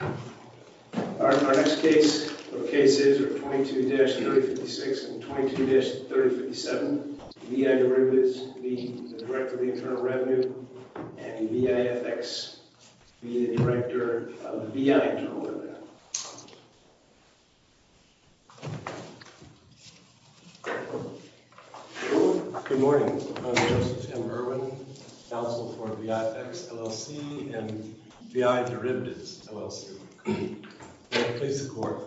Our next cases are 22-3056 and 22-3057. VI Derivatives v. Director of Internal Revenue and VI FX v. Director of VI Internal Revenue. Good morning. I'm Joseph M. Irwin, counsel for VI FX LLC and VI Derivatives LLC. May it please the court.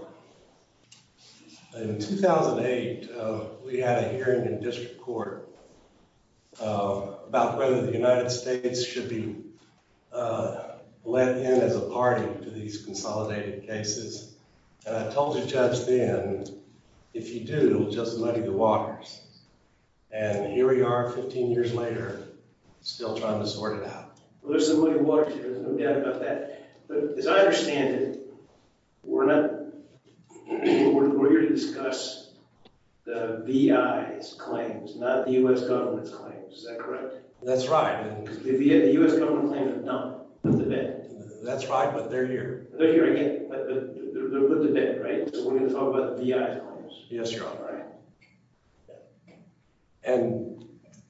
In 2008, we had a hearing in district court about whether the United States should be let in as a party to these consolidated cases. And I told the judge then, if you do, it will just muddy the waters. And here we are, 15 years later, still trying to sort it out. Well, there's some muddy waters here. There's no doubt about that. But as I understand it, we're not... We're here to discuss the VI's claims, not the U.S. government's claims. Is that correct? That's right. The U.S. government claims are done. They're put to bed. That's right, but they're here. They're here again, but they're put to bed, right? So we're going to talk about the VI's claims. Yes, Your Honor. And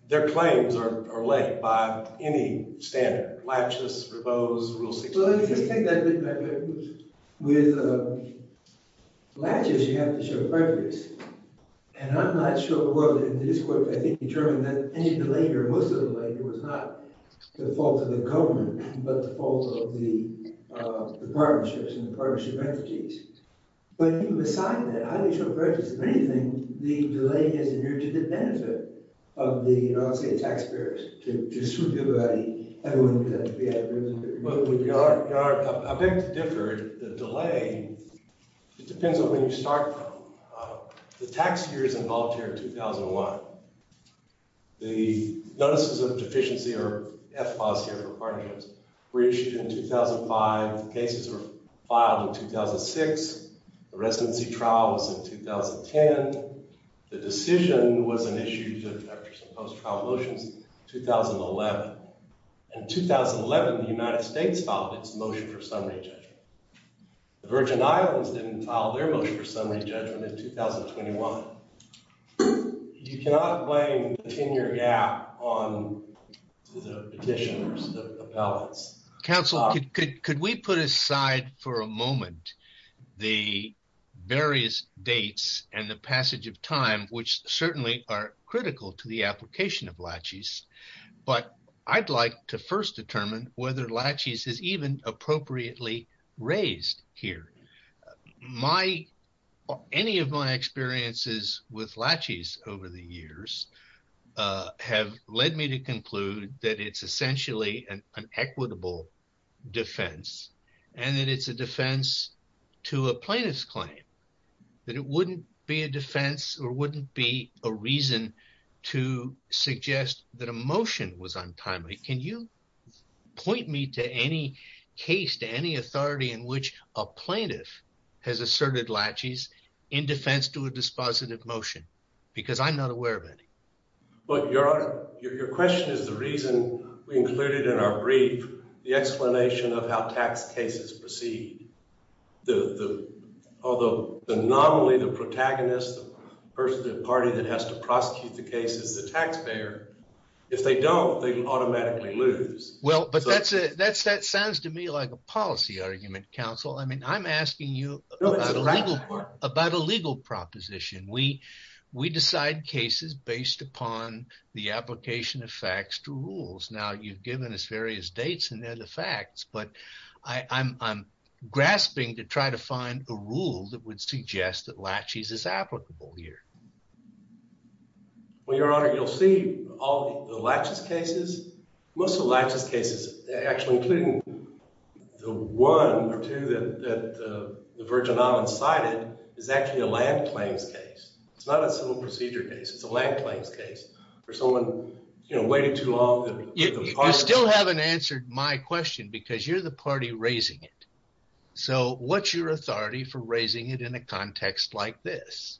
their claims are laid by any standard, laches, revos, rule 60. Well, let me just take that a bit back. With laches, you have to show prejudice. And I'm not sure whether in this court, I think you determined that any delay, or most of the delay, was not the fault of the government, but the fault of the partnerships and the partnership entities. But even beside that, how do you show prejudice of anything, the delay isn't due to the benefit of the, I don't want to say the taxpayers, to distribute the money. Your Honor, I beg to differ. The delay, it depends on where you start from. The tax year is involved here in 2001. The notices of deficiency, or FFAS here for partnerships, were issued in 2005. The cases were filed in 2006. The residency trial was in 2010. The decision was an issue, after some post-trial motions, in 2011. In 2011, the United States filed its motion for summary judgment. The Virgin Islands didn't file their motion for summary judgment in 2021. You cannot blame the 10-year gap on the petitioners, the appellants. Counsel, could we put aside for a moment the various dates and the passage of time, which certainly are critical to the application of laches? But I'd like to first determine whether laches is even appropriately raised here. My, any of my experiences with laches over the years have led me to conclude that it's essentially an equitable defense, and that it's a defense to a plaintiff's claim, that it wouldn't be a defense or wouldn't be a reason to suggest that a motion was untimely. Can you point me to any case, to any authority, in which a plaintiff has asserted laches in defense to a dispositive motion? Because I'm not aware of any. Your question is the reason we included in our brief the explanation of how tax cases proceed. Although not only the protagonist, the person, the party that has to prosecute the case is the taxpayer. If they don't, they automatically lose. Well, but that sounds to me like a policy argument, Counsel. I mean, I'm asking you about a legal proposition. We decide cases based upon the application of facts to rules. Now, you've given us various dates, and they're the facts, but I'm grasping to try to find a rule that would suggest that laches is applicable here. Well, Your Honor, you'll see all the laches cases, most of the laches cases, actually including the one or two that the Virgin Islands cited is actually a land claims case. It's not a civil procedure case. It's a land claims case for someone waiting too long. You still haven't answered my question because you're the party raising it. So what's your authority for raising it in a context like this,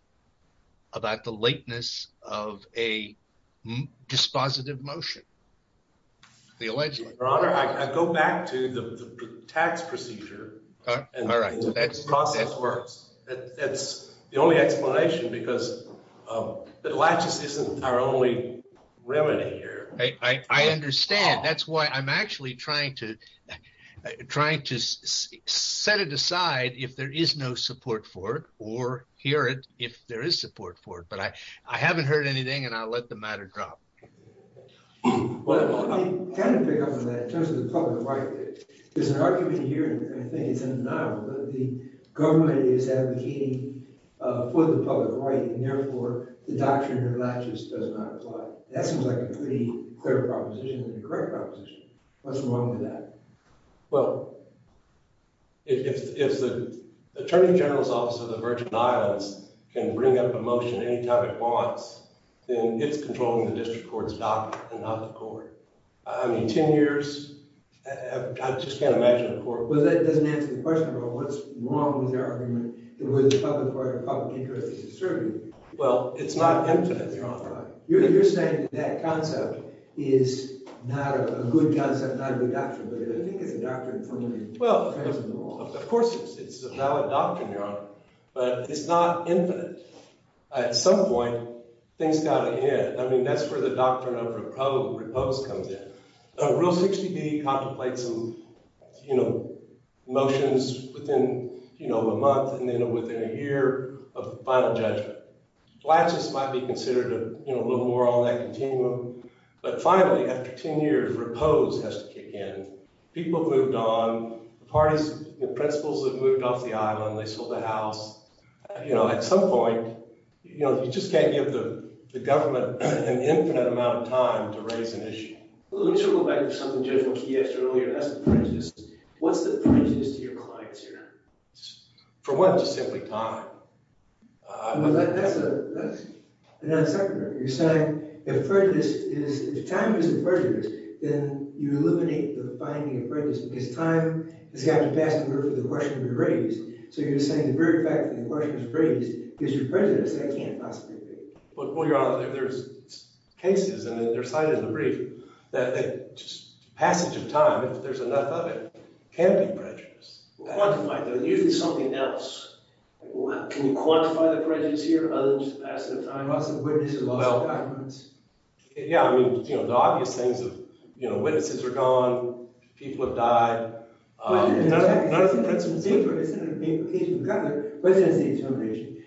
about the lateness of a dispositive motion? Your Honor, I go back to the tax procedure. All right. The process works. That's the only explanation because the laches isn't our only remedy here. I understand. That's why I'm actually trying to set it aside if there is no support for it or hear it if there is support for it, but I haven't heard anything, and I'll let the matter drop. Let me pick up on that in terms of the public right. There's an argument here and I think it's in denial that the government is advocating for the public right and therefore the doctrine of laches does not apply. That seems like a pretty clear proposition and a correct proposition. What's wrong with that? Well, if the Attorney General's Office of the Virgin Islands can bring up a motion any time it wants, then it's controlling the district court's doctrine and not the court. I mean, 10 years? I just can't imagine a court. Well, that doesn't answer the question about what's wrong with the argument that whether the public right or public interest is distributed. Well, it's not infinite, Your Honor. You're saying that that concept is not a good concept, not a good doctrine, but I don't think it's a doctrine in terms of the law. Of course it's a valid doctrine, Your Honor, but it's not infinite. At some point, things got to end. I mean, that's where the doctrine of repose comes in. Rule 60B contemplates motions within a month and then within a year of final judgment. Laches might be considered a little more on that continuum, but finally, after 10 years, repose has to kick in. People have moved on. The parties, the principals have moved off the island. They sold the house. At some point, you just can't give the government an infinite amount of time to raise an issue. Let me sort of go back to something Judge McKee asked earlier, and that's prejudice. What's the prejudice to your clients here? For one, it's just simply time. Well, that's a non-sequitur. You're saying if time is a prejudice, then you eliminate the finding of prejudice because time has got to pass in order for the question to be raised. So you're saying the very fact that the question was raised gives you prejudice. That can't possibly be. Well, Your Honor, there's cases, and they're cited in the brief, that passage of time, if there's enough of it, can be prejudice. Well, quantify it. There's usually something else. Can you quantify the prejudice here other than just the passage of time? Lots of witnesses, lots of documents. Yeah, I mean, you know, the obvious things of, you know, witnesses are gone. People have died. None of the principals have. We've got the residency determination.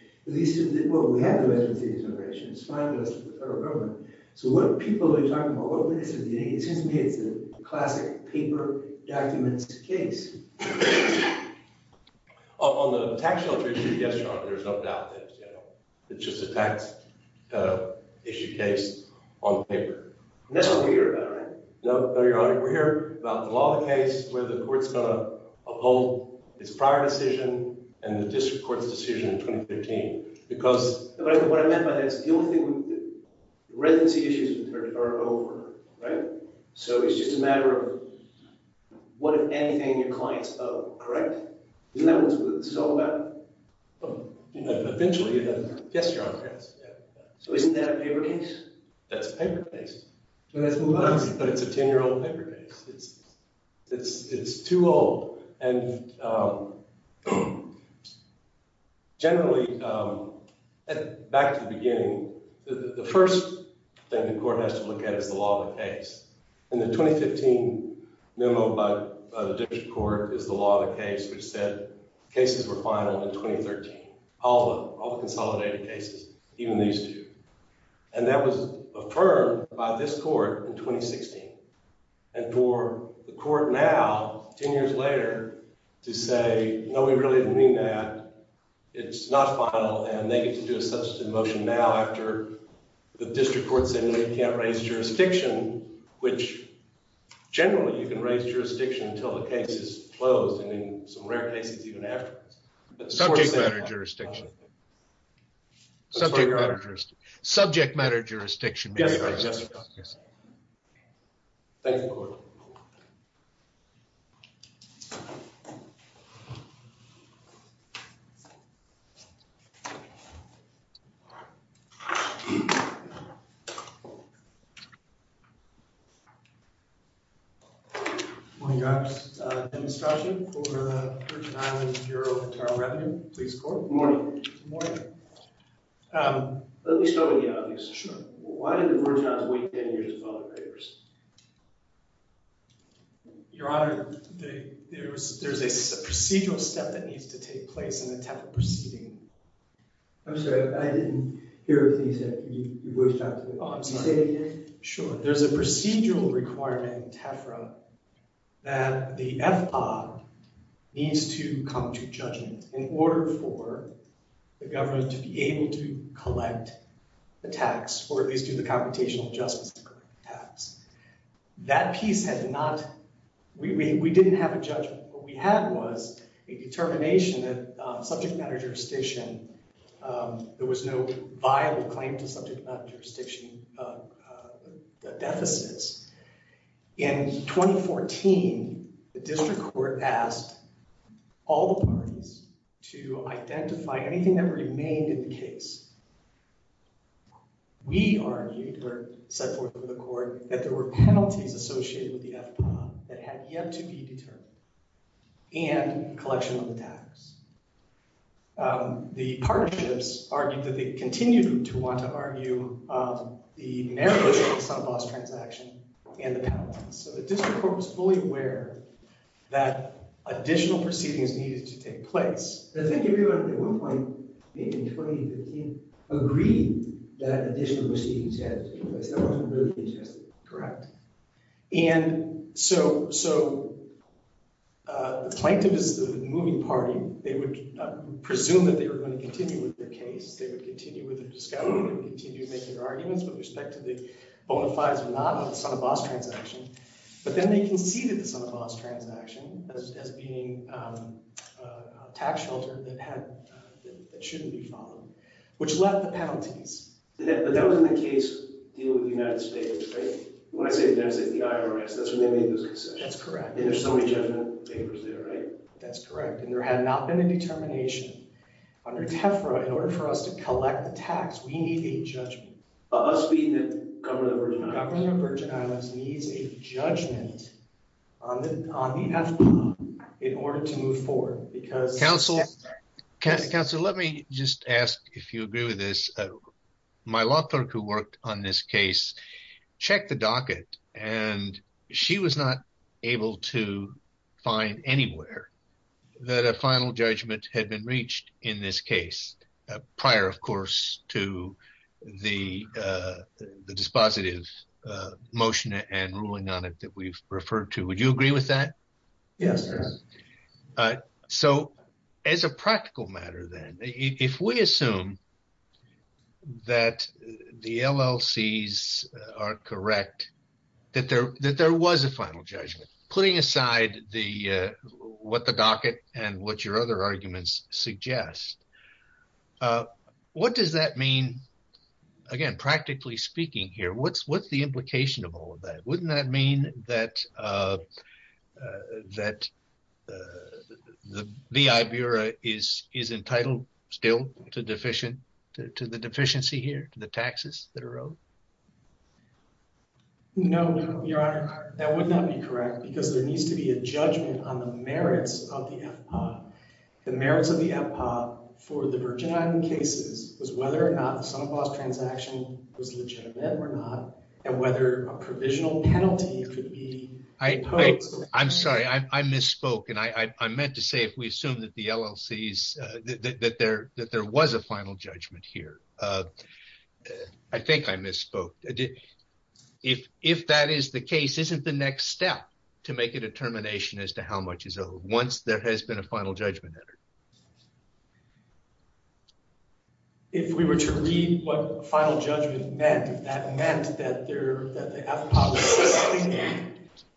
Well, we have the residency determination. It's fine with us, the federal government. So what people are you talking about? It seems to me it's a classic paper documents case. On the tax shelter issue, yes, Your Honor. There's no doubt that it's just a tax issue case on paper. That's what we're here about, right? No, Your Honor, we're here about the law of the case where the court's going to uphold its prior decision and the district court's decision in 2013. What I meant by that is the only thing, the residency issues are over, right? So it's just a matter of what, if anything, your client's of, correct? Isn't that what this is all about? Eventually, yes, Your Honor. So isn't that a paper case? That's a paper case. But it's a 10-year-old paper case. It's too old. And generally, back to the beginning, the first thing the court has to look at is the law of the case. And the 2015 memo by the district court is the law of the case, which said cases were final in 2013, all the consolidated cases, even these two. And that was affirmed by this court in 2016. And for the court now, 10 years later, to say, no, we really didn't mean that. It's not final. And they get to do a substantive motion now after the district court said we can't raise jurisdiction, which generally, you can raise jurisdiction until the case is closed, and in some rare cases, even afterwards. Subject matter jurisdiction. Subject matter jurisdiction. Subject matter jurisdiction. Yes, Your Honor. Thank you, court. Good morning, Your Honor. Dennis Croson for the Virgin Islands Bureau of Internal Revenue Police Court. Good morning. Good morning. Let me start with the obvious. Sure. Why did the Virgin Islands wait 10 years with other papers? Your Honor, there's a procedural step that needs to take place in the TEFRA proceeding. I'm sorry. I didn't hear what you said. You wish to talk to me? Oh, I'm sorry. Say it again. Sure. There's a procedural requirement in TEFRA that the FPA needs to come to judgment in order for the government to be able to collect the tax, or at least do the computational justice tax. That piece had not, we didn't have a judgment. What we had was a determination that subject matter jurisdiction, there was no viable claim to subject matter jurisdiction deficits. In 2014, the district court asked all the parties to identify anything that remained in the case. We argued, or set forth with the court, that there were penalties associated with the FPA that had yet to be determined and collection of the tax. The partnerships argued that they continued to want to argue the narrow case on a loss transaction and the penalties. So the district court was fully aware that additional proceedings needed to take place. Does that give you at one point, maybe in 2015, agreeing that additional proceedings had to take place? That wasn't really the case, was it? Correct. And so the plaintiff is the moving party. They would presume that they were going to continue with their case. They would continue with their discovery and continue to make their arguments with respect to the bona fides or not of the son of boss transaction. But then they conceded the son of boss transaction as being a tax shelter that shouldn't be followed, which left the penalties. But that was in the case dealing with the United States, right? When I say the United States, the IRS. That's when they made those concessions. That's correct. And there's so many judgment papers there, right? That's correct. And there had not been a determination. Under TEFRA, in order for us to collect the tax, we need a judgment. Us being the government of the Virgin Islands. The Virgin Islands needs a judgment. On the, on the. In order to move forward because. Counsel. Counsel, let me just ask if you agree with this. My law clerk who worked on this case. Check the docket and she was not. Able to find anywhere. That a final judgment had been reached in this case. Prior, of course, to the. The, the, the, the. The dispositive. Motion and ruling on it that we've referred to. Would you agree with that? Yes. So. As a practical matter, then if we assume. That the LLCs are correct. That there, that there was a final judgment. Okay. So. Putting aside the. What the docket and what your other arguments suggest. What does that mean? Again, practically speaking here. What's what's the implication of all of that. Wouldn't that mean that. That. The VI Bureau is, is entitled still to deficient. To the deficiency here to the taxes that are owed. No. Your honor. That would not be correct because there needs to be a judgment on the merits of the. The merits of the. For the Virgin Island cases was whether or not some of us transaction. Was legitimate or not. And whether a provisional penalty. I I'm sorry. I misspoke. And I, I, I meant to say, if we assume that the LLCs. That there, that there was a final judgment here. I think I misspoke. If, if that is the case, isn't the next step. To make a determination as to how much is. Once there has been a final judgment. If we were to read what final judgment meant. That meant that there.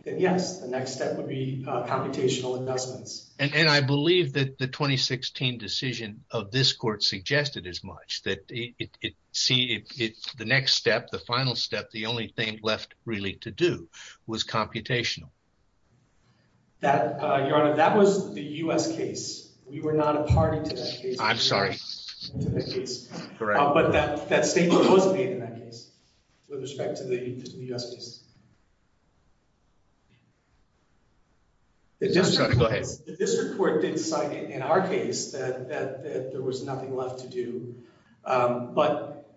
The next step would be computational investments. And I believe that the 2016 decision of this court suggested as much that it. See if it's the next step, the final step, the only thing left really to do was computational. That. Your honor, that was the U.S. case. We were not a party to that. I'm sorry. Correct. But that, that statement wasn't made in that case. With respect to the U.S. case. The district court did cite it in our case that, that, that there was nothing left to do. But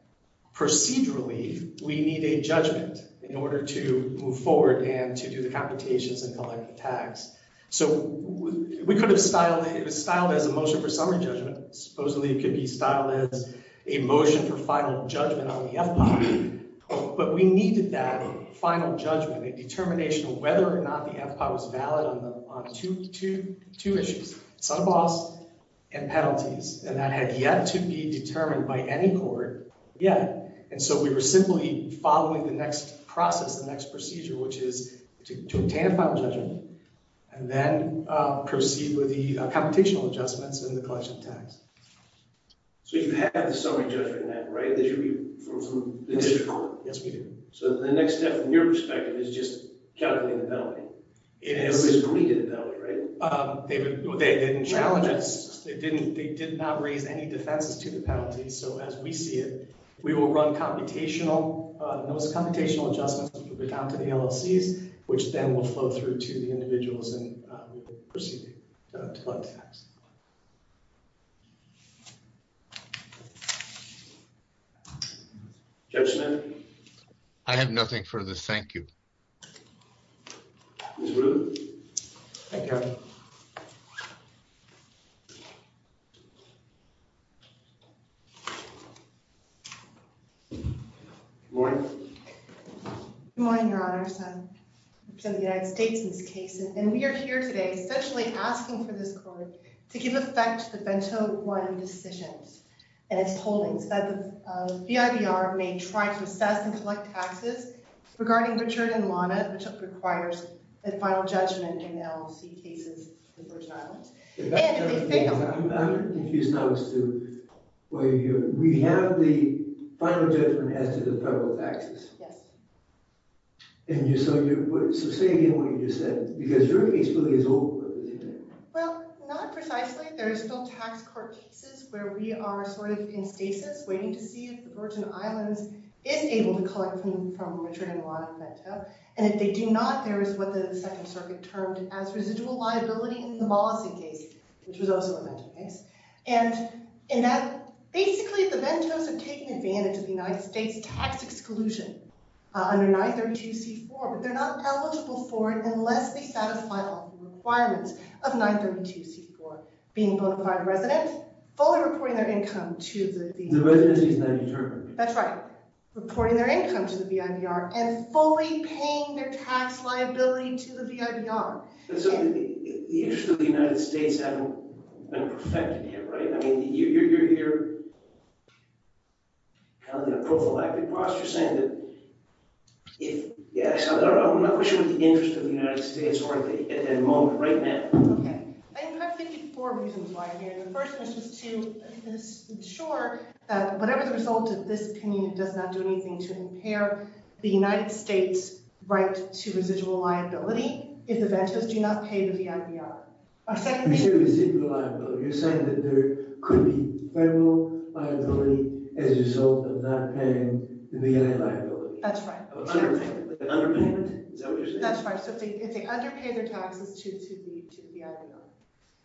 procedurally, we need a judgment in order to move forward and to do the computations and collect the tax. So we could have styled it. It was styled as a motion for summary judgment. Supposedly it could be styled as a motion for final judgment. But we needed that final judgment and determination of whether or not the empire was valid. Two issues, some boss and penalties, and that had yet to be determined by any court yet. And so we were simply following the next process, the next procedure, which is to obtain a final judgment and then proceed with the computational adjustments and the collection of tax. So you have the summary judgment in that, right? That should be from the district court. Yes, we do. So the next step from your perspective is just calculating the penalty. It is. They didn't challenge us. They didn't, they did not raise any defenses to the penalties. So as we see it, we will run computational, those computational adjustments will be down to the LLCs, which then will flow through to the individuals and proceed. I have nothing for this. Thank you. Morning. Good morning, Your Honor. I represent the United States in this case. And we are here today, especially asking for this court to give effect to the bento one decisions and its holdings that the BIDR may try to assess and collect taxes regarding Richard and Lana, which requires a final judgment in LLC cases in the Virgin Islands. And they failed. I'm confused now as to why you're here. We have the final judgment as to the federal taxes. Yes. So say again what you just said, because your case really is over, isn't it? Well, not precisely. There is still tax court cases where we are sort of in stasis waiting to see if the Virgin Islands is able to collect from Richard and Lana bento. And if they do not, there is what the second circuit termed as residual liability in the Mollison case, which was also a bento case. And in that basically the bentos are taking advantage of the United States tax exclusion under 932C4, but they're not eligible for it unless they satisfy all the requirements of 932C4, being a bona fide resident, fully reporting their income to the BIDR. The residency is not determined. That's right. Reporting their income to the BIDR and fully paying their tax liability to the BIDR. The interest of the United States hasn't been perfected yet, right? I mean, you're kind of in a prophylactic posture saying that if, yes, I don't know. I'm not pushing for the interest of the United States at the moment, right now. Okay. I have 54 reasons why I'm here. The first is just to ensure that whatever the result of this opinion does not do anything to impair the United States' right to residual liability if the bentos do not pay the BIDR. You're saying that there could be federal liability as a result of not paying the BIDR liability. That's right. Underpayment? Is that what you're saying? That's right. So if they underpay their taxes to the BIDR.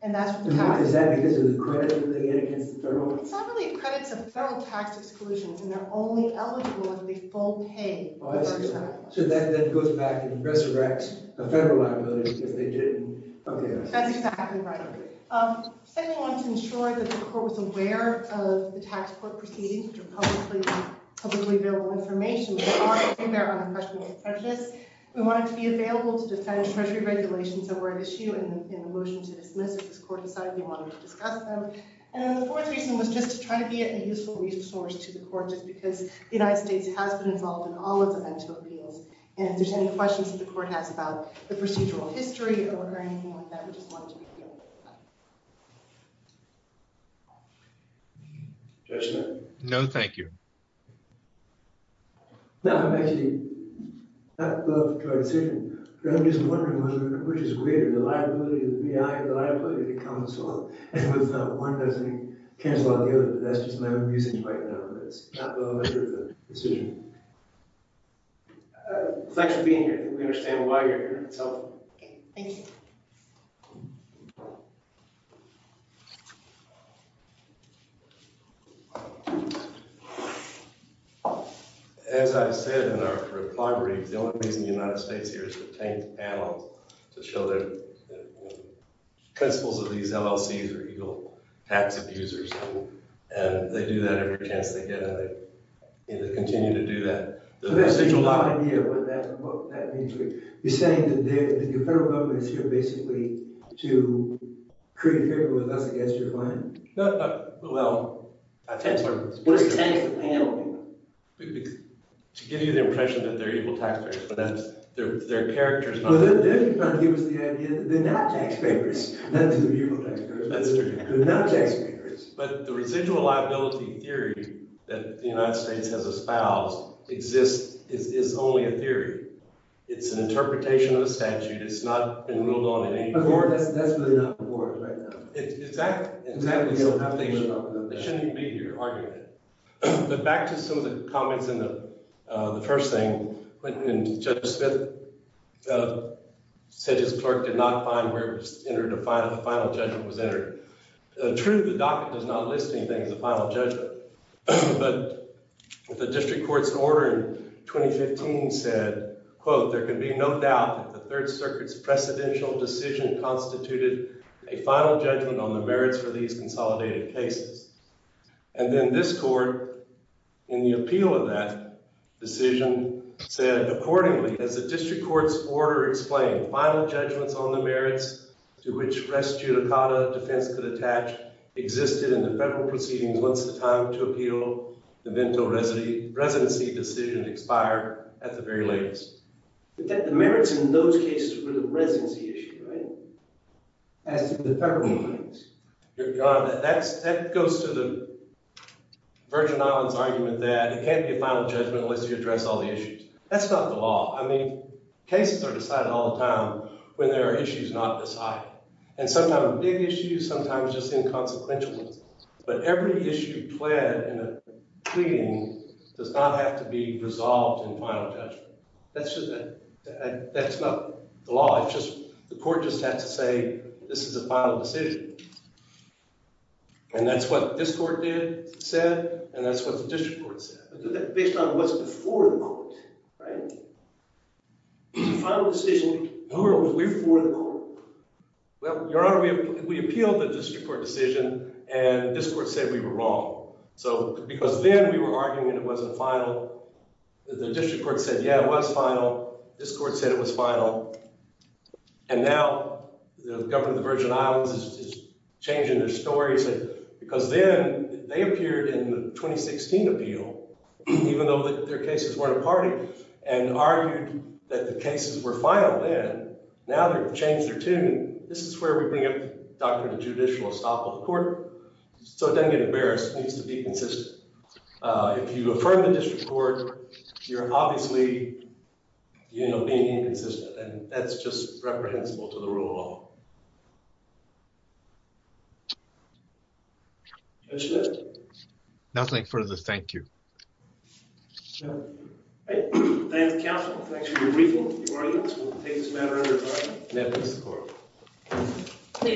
And that's what the tax is. Is that because of the credit they get against the federal? It's not really credits. It's federal tax exclusions, and they're only eligible if they full pay the BIDR. So that goes back and resurrects a federal liability if they didn't. Okay. That's exactly right. Second, we want to ensure that the court was aware of the tax court proceedings, which are publicly available information. They are out there on the congressional consensus. We want it to be available to defend treasury regulations that were an issue in the motion to dismiss. If this court decided they wanted to discuss them. And then the fourth reason was just to try to be a useful resource to the court just because the United States has been involved in all of the legislative appeals. And if there's any questions that the court has about the procedural history or anything like that, we just want it to be available. Judge Smith? No, thank you. No, actually. I'm just wondering, which is weird. The liability of the BIA, the liability of the council. One doesn't cancel out the other. That's just my own reasoning right now. Thanks for being here. We understand why you're here. It's helpful. Okay. Thank you. As I said in our reply brief, the only reason the United States is here is to obtain the panel to show the principles of these LLCs are legal tax abusers. And they do that every chance they get. And they continue to do that. You're saying that the federal government is here basically to create favor with us against your plan? Well, I think so. What does tax the panel do? To give you the impression that they're equal tax payers. But their character is not. They're not tax payers. They're not tax payers. But the residual liability theory that the United States has espoused exists is only a theory. It's an interpretation of the statute. It's not been ruled on in any court. That's really not the court right now. Exactly. It shouldn't be your argument. But back to some of the comments in the first thing, when Judge Smith said his clerk did not find where the final judgment was entered. True, the docket does not list anything as a final judgment. But the district court's order in 2015 said, quote, there can be no doubt that the Third Circuit's precedential decision constituted a final judgment on the merits for these consolidated cases. And then this court, in the appeal of that decision, said accordingly, as the district court's order explained, the final judgments on the merits to which res judicata defense could attach existed in the federal proceedings once the time to appeal the vento residency decision expired at the very latest. But the merits in those cases were the residency issue, right? As to the federal ones. Your Honor, that goes to the Virgin Islands argument that it can't be a final judgment unless you address all the issues. That's not the law. I mean, cases are decided all the time when there are issues not decided. And sometimes big issues, sometimes just inconsequential ones. But every issue pled in a pleading does not have to be resolved in final judgment. That's not the law. The court just has to say, this is a final decision. And that's what this court did, said. And that's what the district court said. I do that based on what's before the court, right? It's a final decision. Who are we before the court? Well, Your Honor, we appealed the district court decision. And this court said we were wrong. So because then we were arguing it wasn't final. The district court said, yeah, it was final. This court said it was final. And now the government of the Virgin Islands is changing their stories. Seriously. Because then they appeared in the 2016 appeal, even though their cases weren't a party, and argued that the cases were final then. Now they've changed their tune. This is where we bring up the doctrine of judicial estoppel of the court. So it doesn't get embarrassed. It needs to be consistent. If you affirm the district court, you're obviously being inconsistent. And that's just reprehensible to the rule of law. That's it. Nothing further. Thank you. Thank you. All right. Thank you, counsel. Thanks for your briefing. May it please the court.